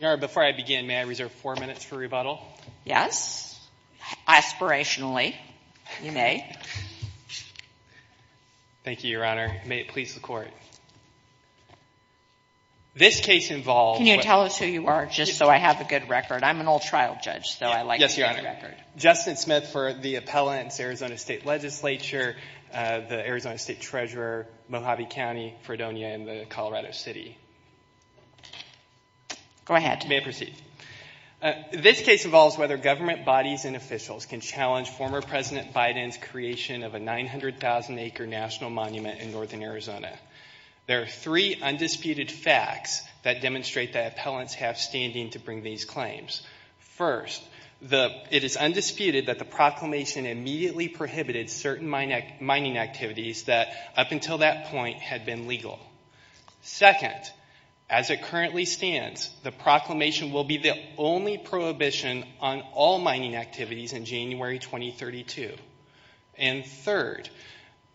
Before I begin, may I reserve four minutes for rebuttal? Yes. Aspirationally, you may. Thank you, Your Honor. May it please the Court. This case involves- Can you tell us who you are, just so I have a good record? I'm an old trial judge, so I like- Yes, Your Honor. Justin Smith for the Appellants, Arizona State Legislature, the Arizona State Treasurer, Mojave County, Fredonia, and the Colorado City. Go ahead. May I proceed? This case involves whether government bodies and officials can challenge former President Biden's creation of a 900,000-acre national monument in northern Arizona. There are three undisputed facts that demonstrate that appellants have standing to bring these claims. First, it is undisputed that the proclamation immediately prohibited certain mining activities that, up until that point, had been legal. Second, as it currently stands, the proclamation will be the only prohibition on all mining activities in January 2032. And third,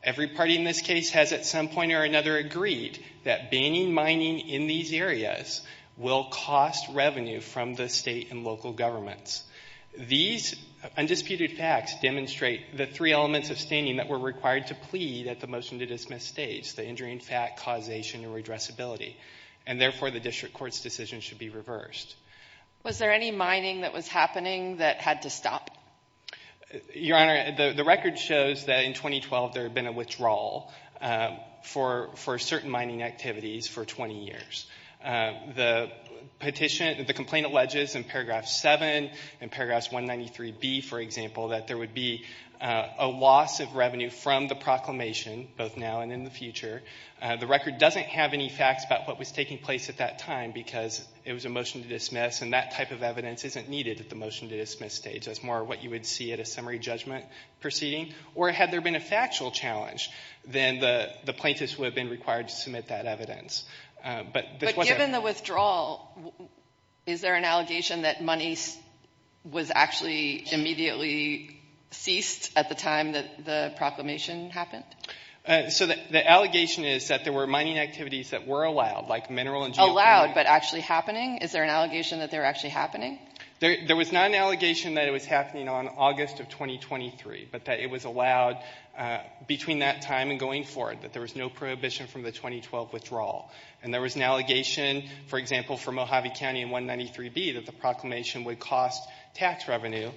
every party in this case has at some point or another agreed that banning mining in these areas will cost revenue from the state and local governments. These undisputed facts demonstrate the three elements of standing that were required to plead at the motion to dismiss stage. The injury in fact, causation, and redressability. And therefore, the district court's decision should be reversed. Was there any mining that was happening that had to stop? Your Honor, the record shows that in 2012 there had been a withdrawal for certain mining activities for 20 years. The petition, the complaint alleges in paragraph 7 and paragraphs 193B, for example, that there would be a loss of revenue from the proclamation, both now and in the future. The record doesn't have any facts about what was taking place at that time because it was a motion to dismiss and that type of evidence isn't needed at the motion to dismiss stage. That's more what you would see at a summary judgment proceeding. Or had there been a factual challenge, then the plaintiffs would have been required to submit that evidence. But this wasn't... But given the withdrawal, is there an allegation that money was actually immediately ceased at the time that the proclamation happened? So the allegation is that there were mining activities that were allowed, like mineral and geothermal. Allowed, but actually happening? Is there an allegation that they were actually happening? There was not an allegation that it was happening on August of 2023, but that it was allowed between that time and going forward, that there was no prohibition from the 2012 withdrawal. And there was an allegation, for example, for Mojave County in that the proclamation would cost tax revenue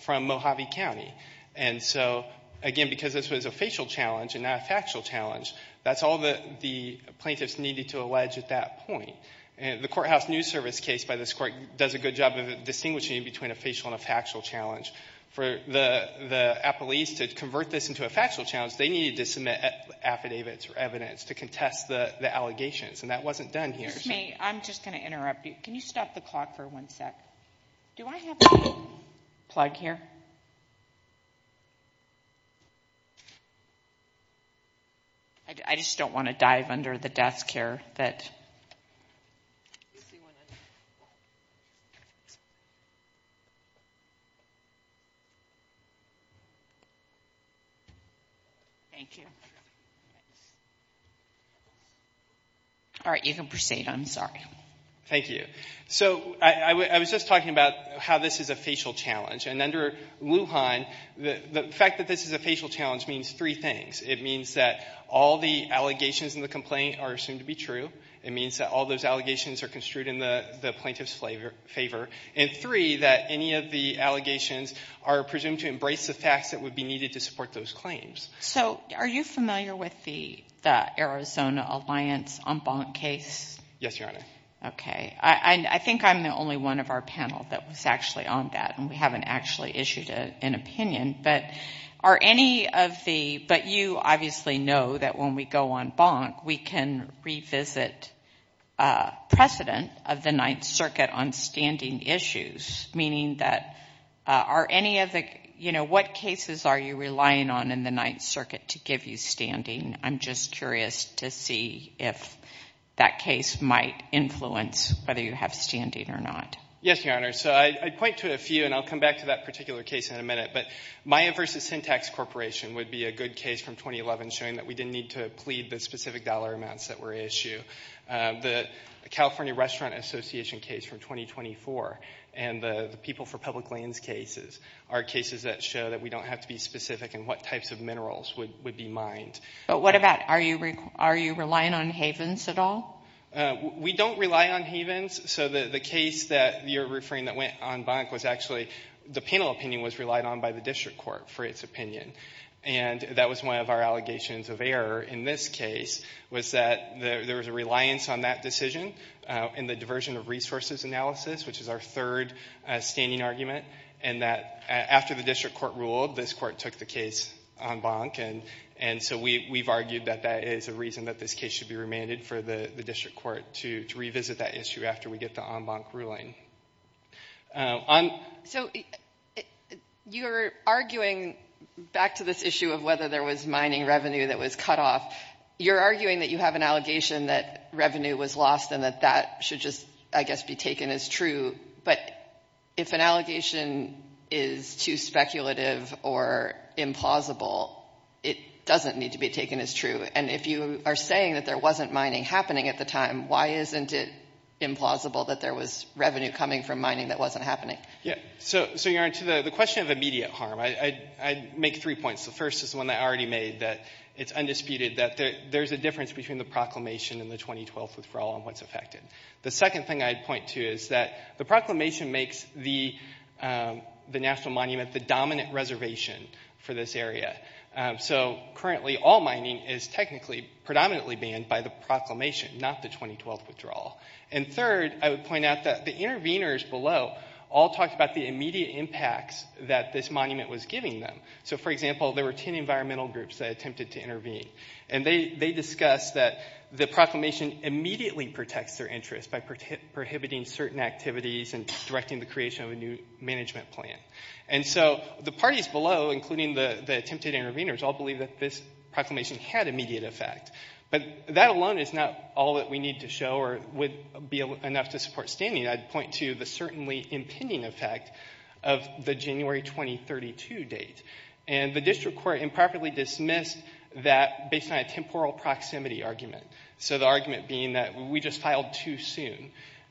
from Mojave County. And so, again, because this was a facial challenge and not a factual challenge, that's all the plaintiffs needed to allege at that point. And the courthouse news service case by this court does a good job of distinguishing between a facial and a factual challenge. For the apologies to convert this into a factual challenge, they needed to submit affidavits or evidence to contest the allegations. And that wasn't done here. If you'll excuse me, I'm just going to interrupt you. Can you stop the clock for one sec? Do I have the plug here? I just don't want to dive under the desk here. But... Thank you. All right. You can proceed. I'm sorry. Thank you. So, I was just talking about how this is a facial challenge. And under Lujan, the fact that this is a facial challenge means three things. It means that all the allegations in the complaint are assumed to be true. It means that all those allegations are construed in the plaintiff's favor. And three, that any of the allegations are presumed to embrace the facts that would be needed to support those claims. So, are you familiar with the fact that the plaintiff's favor is assumed to be true? Are you familiar with the Arizona Alliance en banc case? Yes, Your Honor. Okay. I think I'm the only one of our panel that was actually on that. And we haven't actually issued an opinion. But are any of the.. But you obviously know that when we go en banc, we can revisit precedent of the Ninth Circuit on standing issues, meaning that are any of the.. You know, what cases are you relying on in the Ninth Circuit to give you standing? I'm just curious to see if that case might influence whether you have standing or not. Yes, Your Honor. So, I'd point to a few and I'll come back to that particular case in a minute. But Maya versus Syntax Corporation would be a good case from 2011 showing that we didn't need to plead the specific dollar amounts that were issued. The California Restaurant Association case from 2024 and the People for Public Lands cases are cases that show that we don't have to be specific in what types of minerals would be mined. But what about.. Are you relying on havens at all? We don't rely on havens. So, the case that you're referring that went en banc was actually.. The panel opinion was relied on by the district court for its opinion. And that was one of our allegations of error in this case was that there was a reliance on that decision in the diversion of resources analysis, which is our third standing argument. And that after the district court ruled, this court took the case en banc. And so, we've argued that that is a reason that this case should be remanded for the district court to revisit that issue after we get the en banc ruling. So, you're arguing back to this issue of whether there was mining revenue that was cut off. You're arguing that you have an allegation that revenue was lost and that that should just, I guess, be taken as true. But if an allegation is too speculative or implausible, it doesn't need to be taken as true. And if you are saying that there wasn't mining happening at the time, why isn't it implausible that there was revenue coming from mining that wasn't happening? Yeah. So, you're onto the question of immediate harm. I'd make three points. The first is one that I already made that it's undisputed that there's a difference between the proclamation and the 2012 withdrawal and what's affected. The second thing I'd point to is that the proclamation makes the national monument the dominant reservation for this area. So, currently, all mining is technically predominantly banned by the proclamation, not the 2012 withdrawal. And third, I would point out that the interveners below all talked about the immediate impacts that this monument was giving them. So, for example, there were 10 environmental groups that attempted to intervene. And they discussed that the proclamation immediately protects their interests by prohibiting certain activities and directing the creation of a new management plan. And so, the parties below, including the attempted interveners, all believe that this proclamation had immediate effect. But that alone is not all that we need to show or would be enough to support standing. I'd point to the certainly impending effect of the January 2032 date. And the district court improperly dismissed that based on a temporal proximity argument. So, the argument being that we just filed too soon.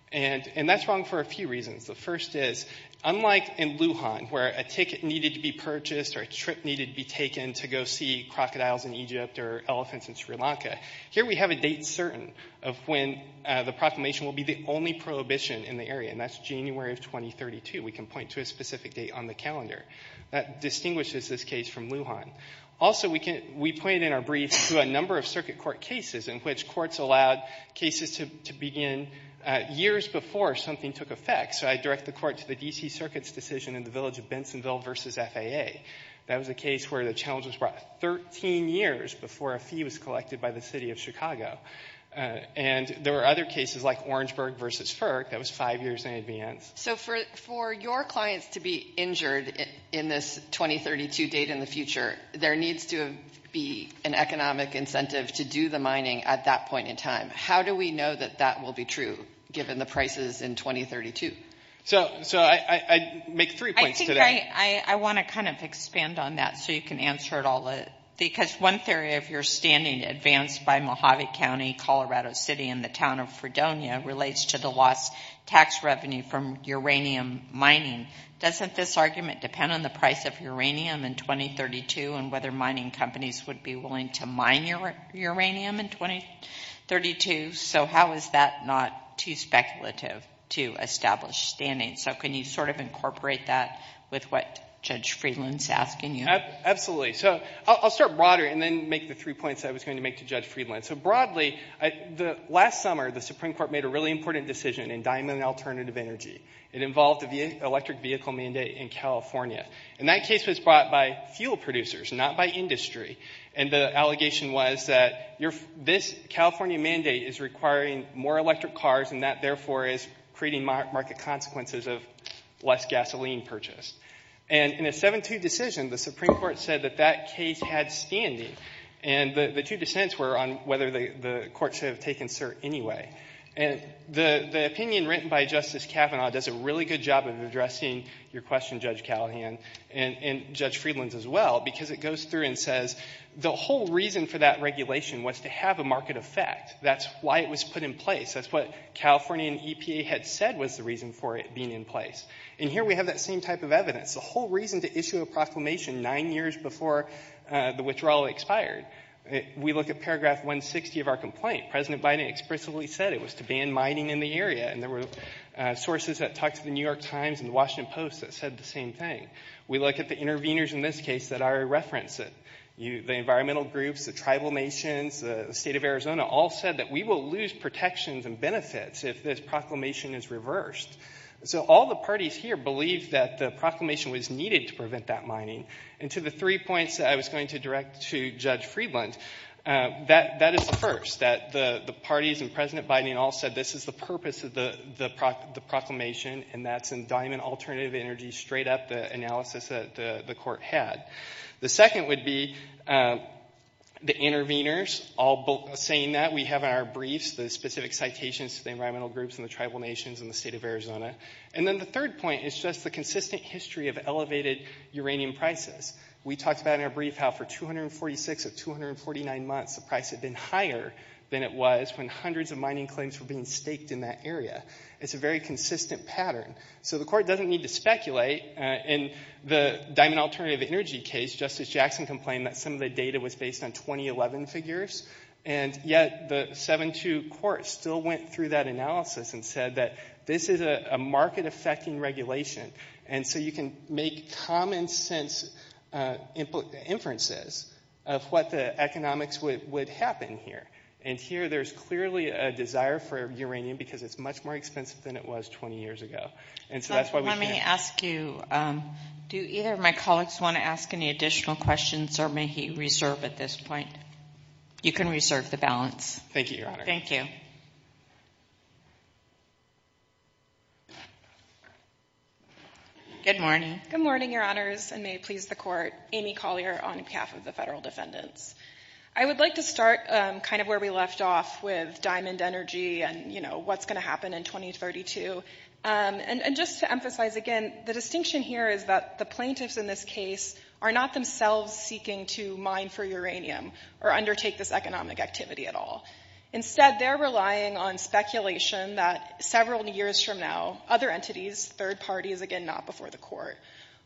And that's wrong for a few reasons. The first is, unlike in Lujan, where a ticket needed to be purchased or a trip needed to be taken to go see crocodiles in Egypt or elephants in Sri Lanka, here we have a date certain of when the proclamation will be the only prohibition in the area, and that's January of 2032. We can point to a specific date on the calendar. That distinguishes this case from Lujan. Also, we pointed in our brief to a number of circuit court cases in which courts allowed cases to begin years before something took effect. So, I direct the court to the D.C. Circuit's decision in the village of Bensonville versus FAA. That was a case where the challenge was brought 13 years before a fee was collected by the city of Chicago. And there were other cases like Orangeburg versus FERC that was five years in advance. So, for your clients to be injured in this 2032 date in the future, there needs to be an economic incentive to do the mining at that point in time. How do we know that that will be true given the prices in 2032? So, I make three points today. I want to kind of expand on that so you can answer it all. Because one theory, if you're standing advanced by Mojave County, Colorado City, and the town of Fredonia relates to the lost tax revenue from uranium mining. Doesn't this argument depend on the price of uranium in 2032 and whether mining companies would be willing to mine uranium in 2032? So, how is that not too speculative to establish standing? So, can you sort of incorporate that with what Judge Friedland is asking you? Absolutely. So, I'll start broader and then make the three points I was going to make to Judge Friedland. So, broadly, last summer, the Supreme Court made a really important decision in diamond alternative energy. It involved the electric vehicle mandate in California. And that case was brought by fuel producers, not by industry. And the allegation was that this California mandate is requiring more electric cars and that, therefore, is creating market consequences of less gasoline purchase. And in a 7-2 decision, the Supreme Court said that that case had standing. And the two dissents were on whether the court should have taken cert anyway. And the opinion written by Justice Kavanaugh does a really good job of addressing your question, Judge Callahan, and Judge Friedland, as well, because it goes through and says the whole reason for that regulation was to have a market effect. That's why it was put in place. That's what California and EPA had said was the reason for it being in place. And here, we have that same type of evidence. The whole reason to issue a proclamation nine years before the withdrawal expired. We look at paragraph 160 of our complaint. President Biden explicitly said it was to ban mining in the area, and there were sources that talked to the New York Times and the Washington Post that said the same thing. We look at the interveners in this case that are referenced. The environmental groups, the tribal nations, the state of Arizona all said that we will lose protections and benefits if this proclamation is reversed. So all the parties here believed that the proclamation was needed to prevent that mining. And to the three points that I was going to direct to Judge Friedland, that is the first, that the parties and President Biden all said this is the purpose of the proclamation, and that's in diamond alternative energy, straight up the analysis that the court had. The second would be the interveners all saying that. We have in our briefs the specific citations to the environmental groups and the tribal nations and the state of And then the third point is just the consistent history of elevated uranium prices. We talked about in our brief how for 246 of 249 months, the price had been higher than it was when hundreds of mining claims were being staked in that area. It's a very consistent pattern. So the court doesn't need to speculate. In the diamond alternative energy case, Justice Jackson complained that some of the data was based on 2011 figures, and yet the 7-2 court still went through that analysis and said that this is a market-affecting regulation, and so you can make common-sense inferences of what the economics would happen here. And here there's clearly a desire for uranium because it's much more expensive than it was 20 years ago. And so that's why we can't... Let me ask you, do either of my colleagues want to ask any additional questions, or may he reserve at this point? You can reserve the balance. Thank you, Your Honor. Thank you. Good morning. Good morning, Your Honors, and may it please the court. Amy Collier on behalf of the federal defendants. I would like to start kind of where we left off with diamond energy and, you know, what's going to happen in 2032. And just to emphasize again, the distinction here is that the plaintiffs in this case are not themselves seeking to mine for uranium or undertake this economic activity at all. Instead, they're relying on speculation that several years from now, other entities, third parties, again, not before the court,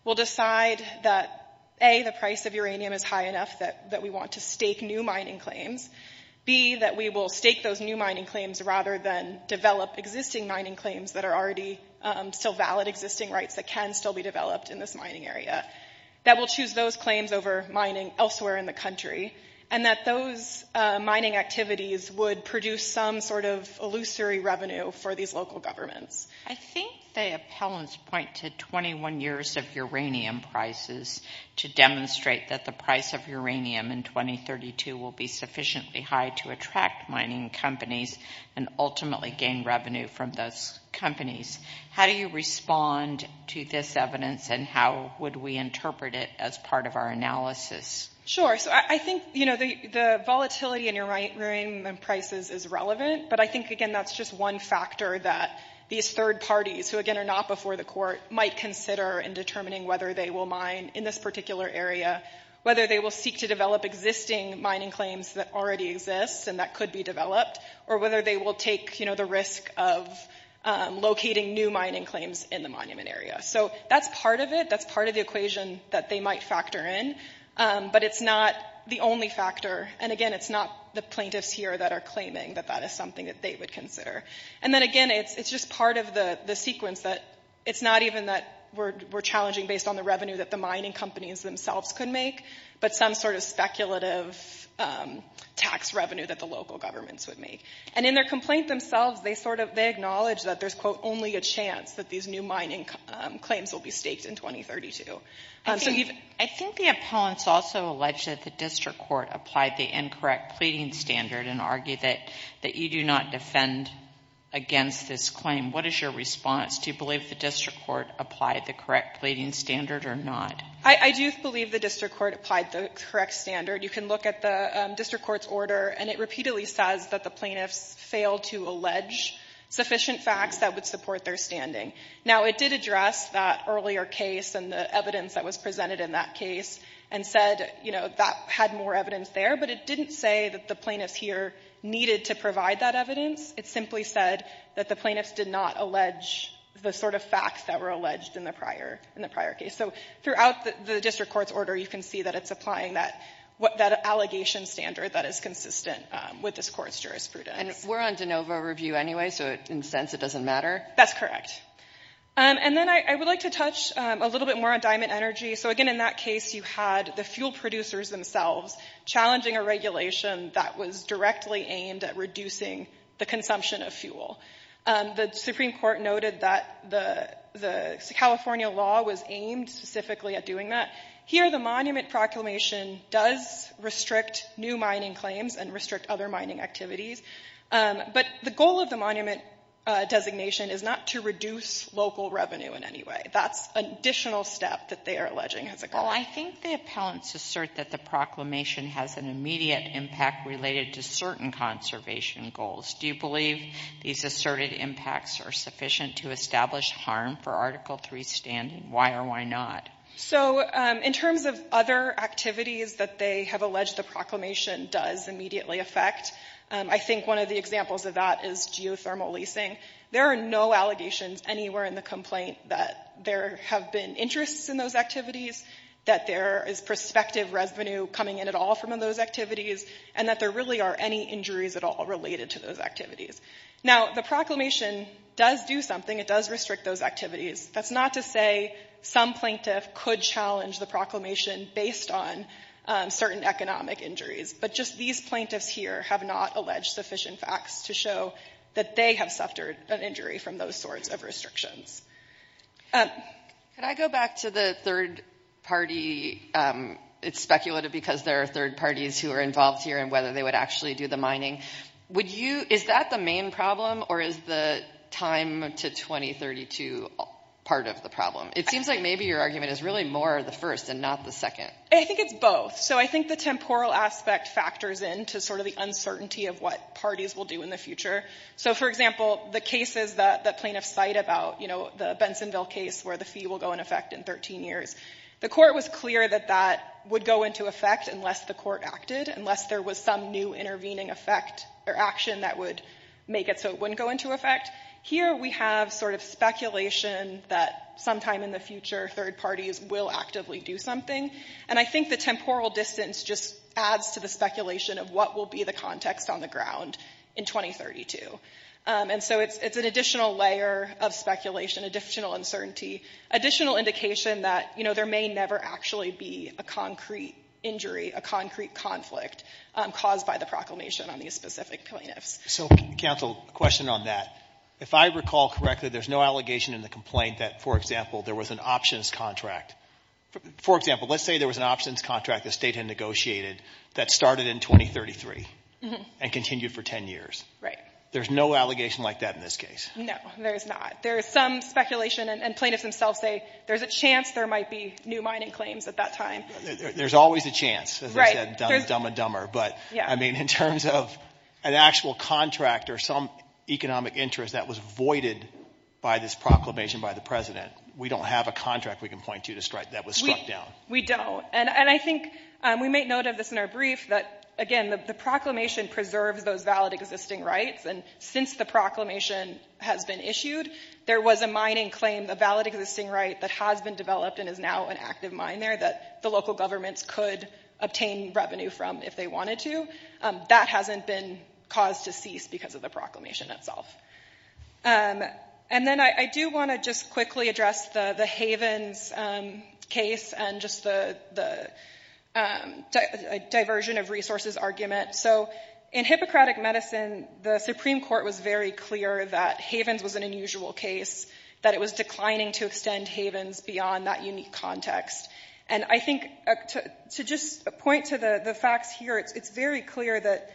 will decide that, A, the price of uranium is high enough that we want to stake new mining claims, B, that we will stake those new mining claims rather than develop existing mining claims that are already still valid, existing rights that can still be developed in this mining area, that we'll choose those claims over mining elsewhere in the country, and that those mining activities would produce some sort of illusory revenue for these local governments. I think the appellants point to 21 years of uranium prices to demonstrate that the price of uranium in 2032 will be sufficiently high to attract mining companies and ultimately gain revenue from those companies. How do you respond to this evidence and how would we interpret it as part of our analysis? Sure. So I think, you know, the volatility in uranium prices is relevant, but I think, again, that's just one factor that these third parties, who, again, are not before the court, might consider in determining whether they will mine in this particular area, whether they will seek to develop existing mining claims that already exist and that could be developed, or whether they will take, you know, the risk of locating new mining claims in the monument area. So that's part of it. That's part of the equation that they might factor in, but it's not the only factor. And, again, it's not the plaintiffs here that are claiming that that is something that they would consider. And then, again, it's just part of the sequence that it's not even that we're challenging based on the revenue that the mining companies themselves could make, but some sort of speculative tax revenue that the local governments would make. And in their complaint themselves, they sort of, they acknowledge that there's, quote, only a chance that these new mining claims will be staked in 2032. So even... I think the appellants also alleged that the district court applied the incorrect pleading standard and argued that you do not defend against this claim. What is your response? Do you believe the district court applied the correct pleading standard or not? I do believe the district court applied the correct pleading standard. You can look at the district court's order and it repeatedly says that the plaintiffs failed to allege sufficient facts that would support their standing. Now, it did address that earlier case and the evidence that was presented in that case and said, you know, that had more evidence there, but it didn't say that the plaintiffs here needed to provide that evidence. It simply said that the plaintiffs did not allege the sort of facts that were alleged in the prior case. So throughout the district court's order, you can see that it's applying that allegation standard that is consistent with this court's jurisprudence. And we're on de novo review anyway, so in a sense, it doesn't matter? That's correct. And then I would like to touch a little bit more on diamond energy. So again, in that case, you had the fuel producers themselves challenging a regulation that was directly aimed at reducing the consumption of fuel. The Supreme Court noted that the California law was aimed specifically at doing that. Here, the monument proclamation does restrict new mining claims and restrict other mining activities, but the goal of the monument designation is not to reduce local revenue in any way. That's an additional step that they are alleging as a goal. Well, I think the appellants assert that the proclamation has an immediate impact related to certain conservation goals. Do you believe these asserted impacts are sufficient to establish harm for Article III standing? Why or why not? So in terms of other activities that they have alleged the proclamation does immediately affect, I think one of the examples of that is geothermal leasing. There are no allegations anywhere in the complaint that there have been interests in those activities, that there is prospective revenue coming in at all from those activities, and that there really are any injuries at all related to those activities. Now, the proclamation does do something. It does restrict those activities. That's not to say some plaintiff could challenge the proclamation based on certain economic injuries, but just these plaintiffs here have not alleged sufficient facts to show that they have suffered an injury from those sorts of Can I go back to the third party? It's speculated because there are third parties who are involved here and whether they would actually do the mining. Is that the main problem or is the time to 2032 part of the It seems like maybe your argument is really more the first and not the second. I think it's both. So I think the temporal aspect factors into sort of the uncertainty of what parties will do in the future. So for example, the cases that plaintiffs cite about, you know, the Bensonville case where the fee will go in effect in 13 years, the court was clear that that would go into effect unless the court acted, unless there was some new intervening action that would make it so it wouldn't go into effect. Here we have sort of speculation that sometime in the future, third parties will actively do something. And I think the temporal distance just adds to the speculation of what will be the context on the ground in 2032. And so it's an additional layer of speculation, additional uncertainty, additional indication that, you know, there may never actually be a concrete injury, a concrete conflict caused by the proclamation on these specific plaintiffs. So counsel, a question on that. If I recall correctly, there's no allegation in the complaint that, for example, there was an options contract, for example, let's say there was an options contract the state had negotiated that started in 2033 and continued for 10 years. Right. There's no allegation like that in this case. No, there is not. There is some speculation and plaintiffs themselves say there's a chance there might be new mining claims at that time. There's always a chance. Right. Dumb and dumber. But I mean, in terms of an actual contract or some economic interest that was voided by this proclamation by the president, we don't have a contract we can point to that was struck down. We don't. And I think we make note of this in our brief that, again, the proclamation preserves those valid existing rights. And since the proclamation has been issued, there was a mining claim, a valid existing right that has been developed and is now an active mine there that the local governments could obtain revenue from if they wanted to. That hasn't been caused to cease because of the proclamation itself. And then I do want to just quickly address the Havens case and just the diversion of resources argument. So in Hippocratic Medicine, the Supreme Court was very clear that Havens was an unusual case, that it was declining to extend Havens beyond that unique context. And I think to just point to the facts here, it's very clear that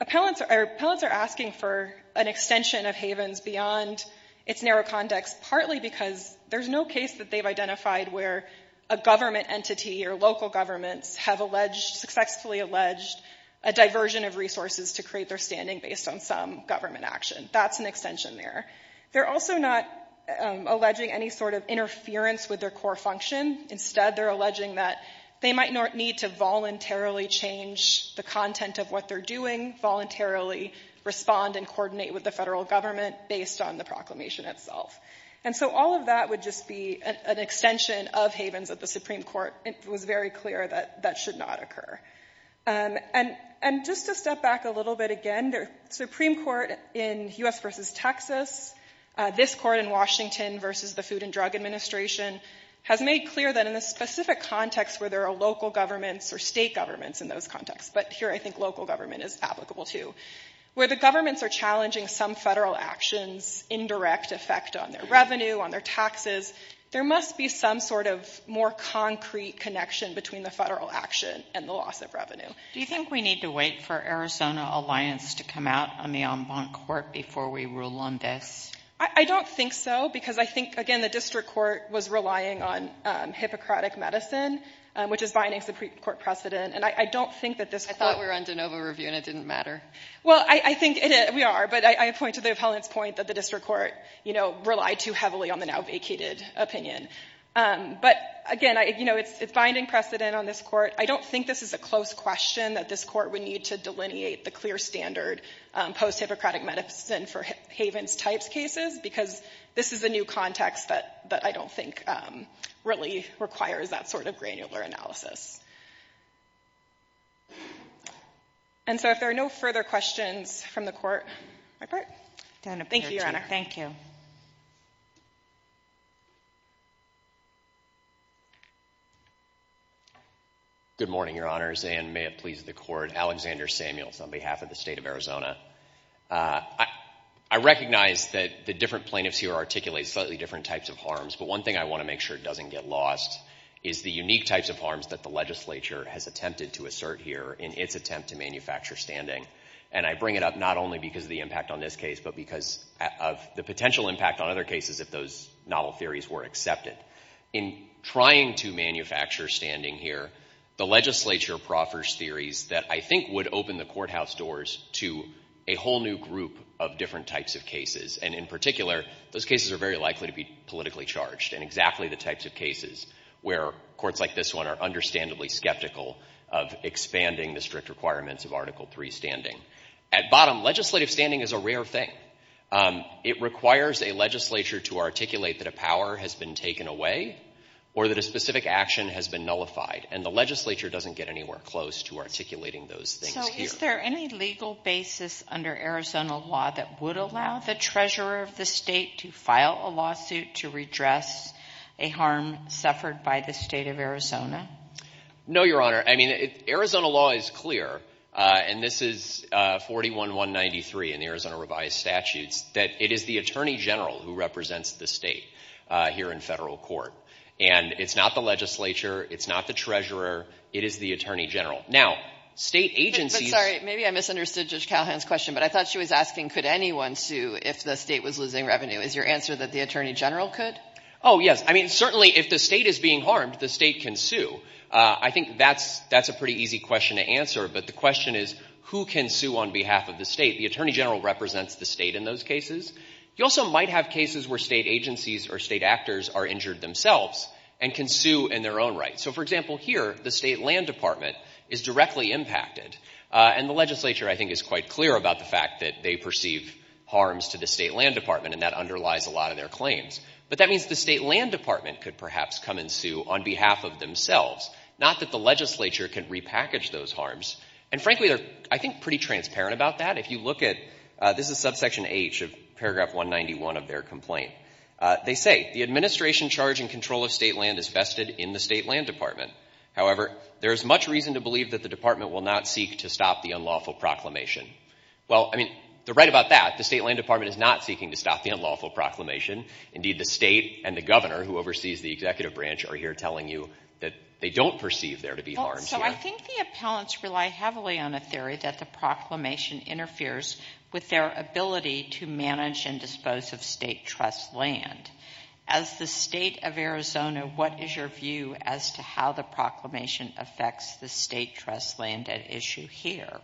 appellants are asking for an extension of Havens beyond its narrow context, partly because there's no case that they've identified where a government entity or local governments have successfully alleged a diversion of resources to create their standing based on some government action. That's an extension there. They're also not alleging any sort of interference with their core function. Instead, they're alleging that they might need to voluntarily change the content of what they're doing, voluntarily respond and coordinate with the federal government based on the proclamation itself. And so all of that would just be an extension of Havens at the Supreme Court. It was very clear that that should not occur. And just to step back a little bit again, the Supreme Court in U.S. versus Texas, this court in Washington versus the Food and Drug Administration has made clear that in the specific context where there are local governments or state governments in those contexts, but here I think local government is applicable too, where the governments are challenging some federal actions, indirect effect on their revenue, on their taxes, there must be some sort of more concrete connection between the federal action and the loss of revenue. Do you think we need to wait for Arizona Alliance to come out on the En Blanc Court before we rule on this? I don't think so, because I think, again, the district court was relying on Hippocratic medicine, which is binding Supreme Court precedent. And I don't think that this court... I thought we were on de novo review and it didn't matter. Well, I think we are, but I point to the appellant's point that the district court, you know, relied too heavily on the now vacated opinion. But again, you know, it's binding precedent on this court. I don't think this is a close question that this court would need to delineate the clear standard post-Hippocratic medicine for Havens-type cases, because this is a new context that I don't think really requires that sort of granular analysis. And so if there are no further questions from the court, my part. Thank you, Your Honor. Thank you. Good morning, Your Honors, and may it please the court. Alexander Samuels on behalf of the state of Arizona. I recognize that the different plaintiffs here articulate slightly different types of harms, but one thing I want to make sure doesn't get lost is the unique types of harms that the legislature has attempted to assert here in its attempt to manufacture standing. And I bring it up not only because of the impact on this case, but because of the potential impact on other cases if those novel theories were accepted. In trying to manufacture standing here, the legislature proffers theories that I think would open the courthouse doors to a whole new group of different types of cases, and in particular, those cases are very likely to be politically charged, and exactly the types of cases where courts like this one are understandably skeptical of expanding the strict requirements of Article III standing. At bottom, legislative standing is a rare thing. It requires a legislature to articulate that a power has been taken away or that a specific action has been nullified, and the legislature doesn't get anywhere close to articulating those things here. Is there any legal basis under Arizona law that would allow the treasurer of the state to file a lawsuit to redress a harm suffered by the state of Arizona? No, Your Honor. I mean, Arizona law is clear, and this is 41-193 in the Arizona revised statutes, that it is the attorney general who represents the state here in federal court. And it's not the legislature, it's not the treasurer, it is the attorney general. Now, state agencies— But sorry, maybe I misunderstood Judge Calhoun's question, but I thought she was asking, could anyone sue if the state was losing revenue? Is your answer that the attorney general could? Oh, yes. I mean, certainly if the state is being harmed, the state can I think that's a pretty easy question to answer, but the question is, who can sue on behalf of the state? The attorney general represents the state in those cases. You also might have cases where state agencies or state actors are injured themselves and can sue in their own right. So, for example, here, the state land department is directly impacted, and the legislature, I think, is quite clear about the fact that they perceive harms to the state land department, and that underlies a lot of their claims. But that means the state land department could perhaps come and sue on behalf of themselves, not that the legislature can repackage those harms. And frankly, they're, I think, pretty transparent about that. If you look at—this is subsection H of paragraph 191 of their complaint. They say, the administration charge in control of state land is vested in the state land department. However, there is much reason to believe that the department will not seek to stop the unlawful proclamation. Well, I mean, they're right about that. The state land department is not seeking to stop the unlawful proclamation. Indeed, the state and the governor who oversees the executive branch are here telling you that they don't perceive there to be harms. So I think the appellants rely heavily on a theory that the proclamation interferes with their ability to manage and dispose of state trust land. As the state of Arizona, what is your view as to how the proclamation affects the state trust land at issue here?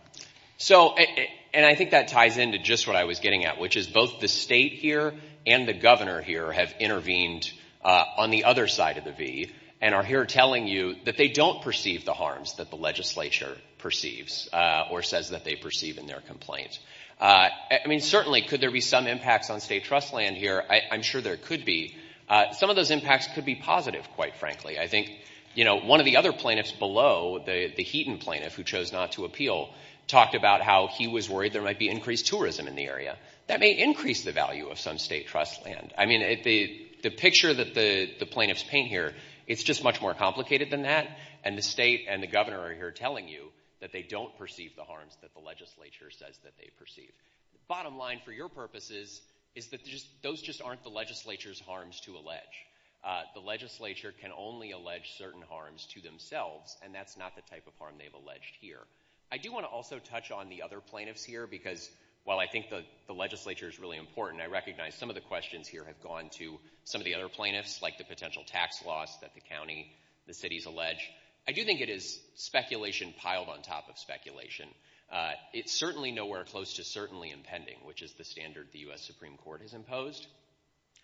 So, and I think that ties into just what I was getting at, which is both the state here and the governor here have intervened on the other side of the V and are here telling you that they don't perceive the harms that the legislature perceives or says that they perceive in their complaint. I mean, certainly, could there be some impacts on state trust land here? I'm sure there could be. Some of those impacts could be positive, quite frankly. I think, you know, one of the other plaintiffs below, the Heaton plaintiff who chose not to appeal, talked about how he was worried there might be increased tourism in the area. That may increase the value of some state trust land. I mean, the picture that the plaintiffs paint here, it's just much more complicated than that. And the state and the governor are here telling you that they don't perceive the harms that the legislature says that they Bottom line, for your purposes, is that those just aren't the legislature's harms to allege. The legislature can only allege certain harms to themselves, and that's not the type of harm they've alleged here. I do want to also touch on the other plaintiffs here, because while I think the legislature is really important, I recognize some of the questions here have gone to some of the other plaintiffs, like the potential tax loss that the county, the city's allege. I do think it is speculation piled on top of speculation. It's certainly nowhere close to certainly impending, which is the standard the U.S. Supreme Court has imposed.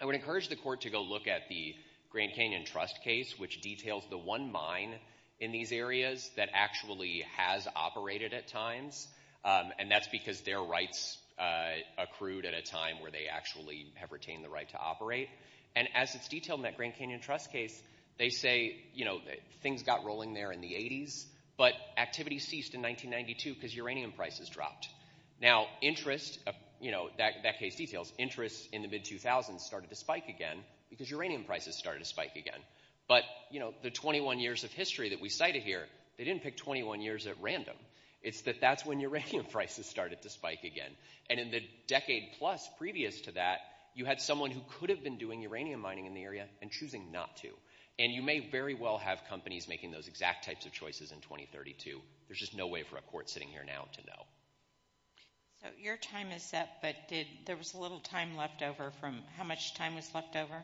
I would encourage the court to go look at the Grand Canyon Trust case, which details the one mine in these areas that actually has operated at times, and that's because their rights accrued at a time where they actually have retained the right to operate. And as it's detailed in that Grand Canyon Trust case, they say, you know, things got rolling there in the 80s, but activity ceased in 1992 because uranium prices dropped. Now, interest, you know, that case details interest in the mid-2000s started to spike again because uranium prices started to spike again. But, you know, the 21 years of history that we cited here, they didn't pick 21 years at random. It's that that's when uranium prices started to spike again. And in the decade plus previous to that, you had someone who could have been doing uranium mining in the area and choosing not to. And you may very well have companies making those exact types of choices in 2032. There's just no way for a court sitting here now to know. So your time is up, but there was a little time left over from how much time was left over?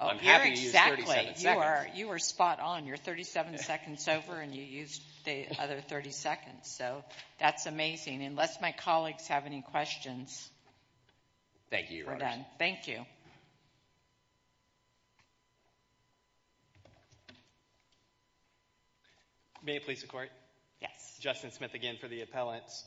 I'm happy to use 37 seconds. You were spot on. You're 37 seconds over, and you used the other 30 seconds. So that's amazing. Unless my colleagues have any questions. Thank you. Thank you. May it please the court? Yes. Justin Smith again for the appellants.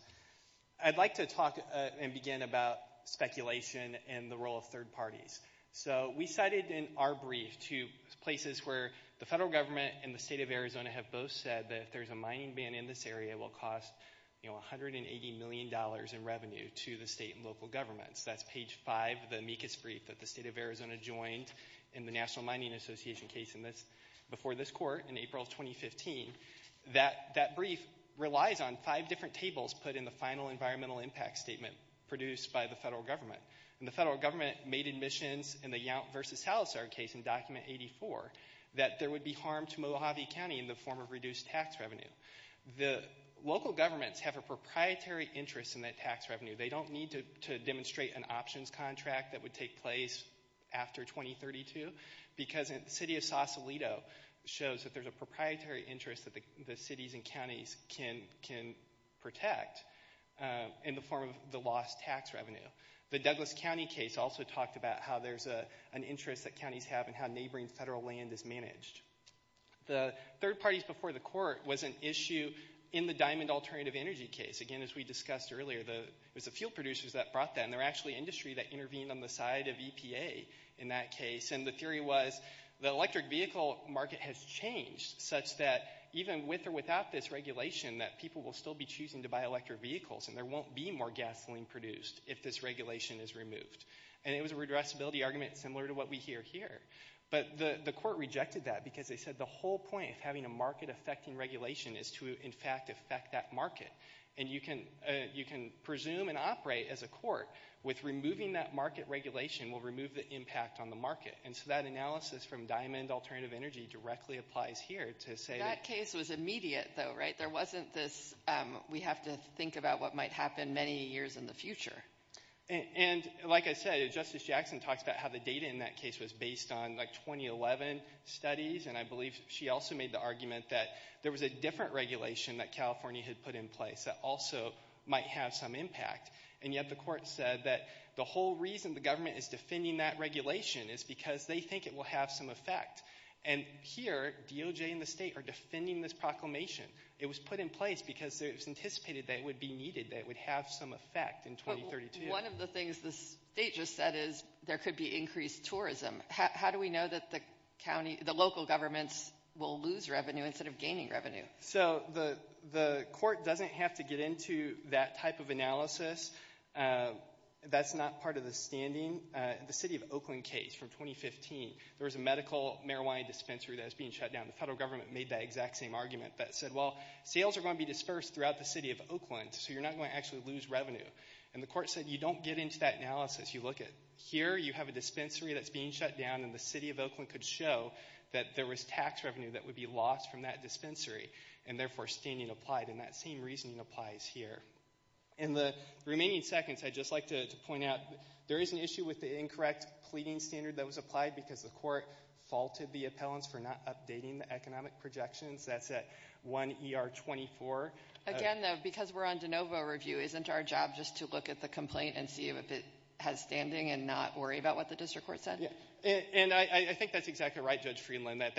I'd like to talk and begin about speculation and the role of third parties. So we cited in our brief two places where the federal government and the state of Arizona have both said that if there's a mining ban in this area, it will cost, you know, $180 million in revenue to the state and local governments. That's page five of the amicus brief that the state of Arizona joined in the National Mining Association case before this court in April of 2015. That brief relies on five different tables put in the final environmental impact statement produced by the federal government. And the federal government made admissions in the Yount versus Salazar case in document 84 that there would be harm to Mojave County in the form of reduced tax revenue. The local governments have a proprietary interest in that tax revenue. They don't need to demonstrate an options contract that would place after 2032 because the city of Sausalito shows that there's a proprietary interest that the cities and counties can protect in the form of the lost tax revenue. The Douglas County case also talked about how there's an interest that counties have and how neighboring federal land is The third parties before the court was an issue in the diamond alternative energy case. Again, as we discussed earlier, it was the fuel producers that brought that. They're actually industry that intervened on the side of EPA in that case. And the theory was the electric vehicle market has changed such that even with or without this regulation that people will still be choosing to buy electric vehicles and there won't be more gasoline produced if this regulation is removed. And it was a redressability argument similar to what we hear here. But the court rejected that because they said the whole point of having a market affecting regulation is to, in fact, affect that market. And you can presume and operate as a court with removing that market regulation will remove the impact on the market. And so that analysis from diamond alternative energy directly applies here to say that case was immediate, though, right? There wasn't this. We have to think about what might happen many years in the future. And like I said, Justice Jackson talks about how the data in that case was based on 2011 studies. And I believe she also made the argument that there was a different regulation that California had put in place that also might have some impact. And yet the court said that the whole reason the government is defending that regulation is because they think it will have some effect. And here DOJ and the state are defending this proclamation. It was put in place because it was anticipated that it would be needed, that it would have some effect in 2032. One of the things the state just said is there could be increased tourism. How do we know that the county, the local governments will lose revenue instead of gaining revenue? So the court doesn't have to get into that type of analysis. That's not part of the standing. The city of Oakland case from 2015, there was a medical marijuana dispensary that was being shut down. The federal government made that exact same argument that said, well, sales are going to be dispersed throughout the city of Oakland, so you're not going to actually lose revenue. And the court said you don't get into that analysis. You look at here, you have a dispensary that's being shut down, and the city of Oakland could show that there was tax revenue that would be lost from that dispensary, and therefore standing applied, and that same reasoning applies here. In the remaining seconds, I'd just like to point out there is an issue with the incorrect pleading standard that was applied because the court faulted the appellants for not updating the economic projections. That's at 1 ER 24. Again, though, because we're on de novo review, isn't our job just to look at the complaint and see if it has standing and not worry about what the district court said? Yeah, and I think that's exactly right, Judge Friedland, that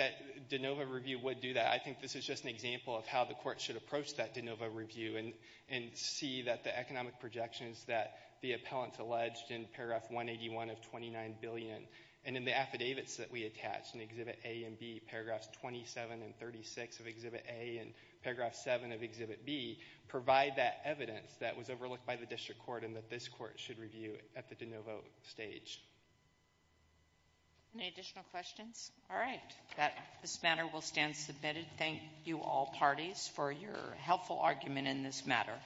de novo review would do that. I think this is just an example of how the court should approach that de novo review and see that the economic projections that the appellants alleged in paragraph 181 of 29 billion and in the affidavits that we attached in exhibit A and B, paragraphs 27 and 36 of exhibit A and paragraph 7 of exhibit B, provide that evidence that was overlooked by the district court and that this court should review at the de novo stage. Any additional questions? All right. That this matter will stand submitted. Thank you, all parties, for your helpful argument in this matter.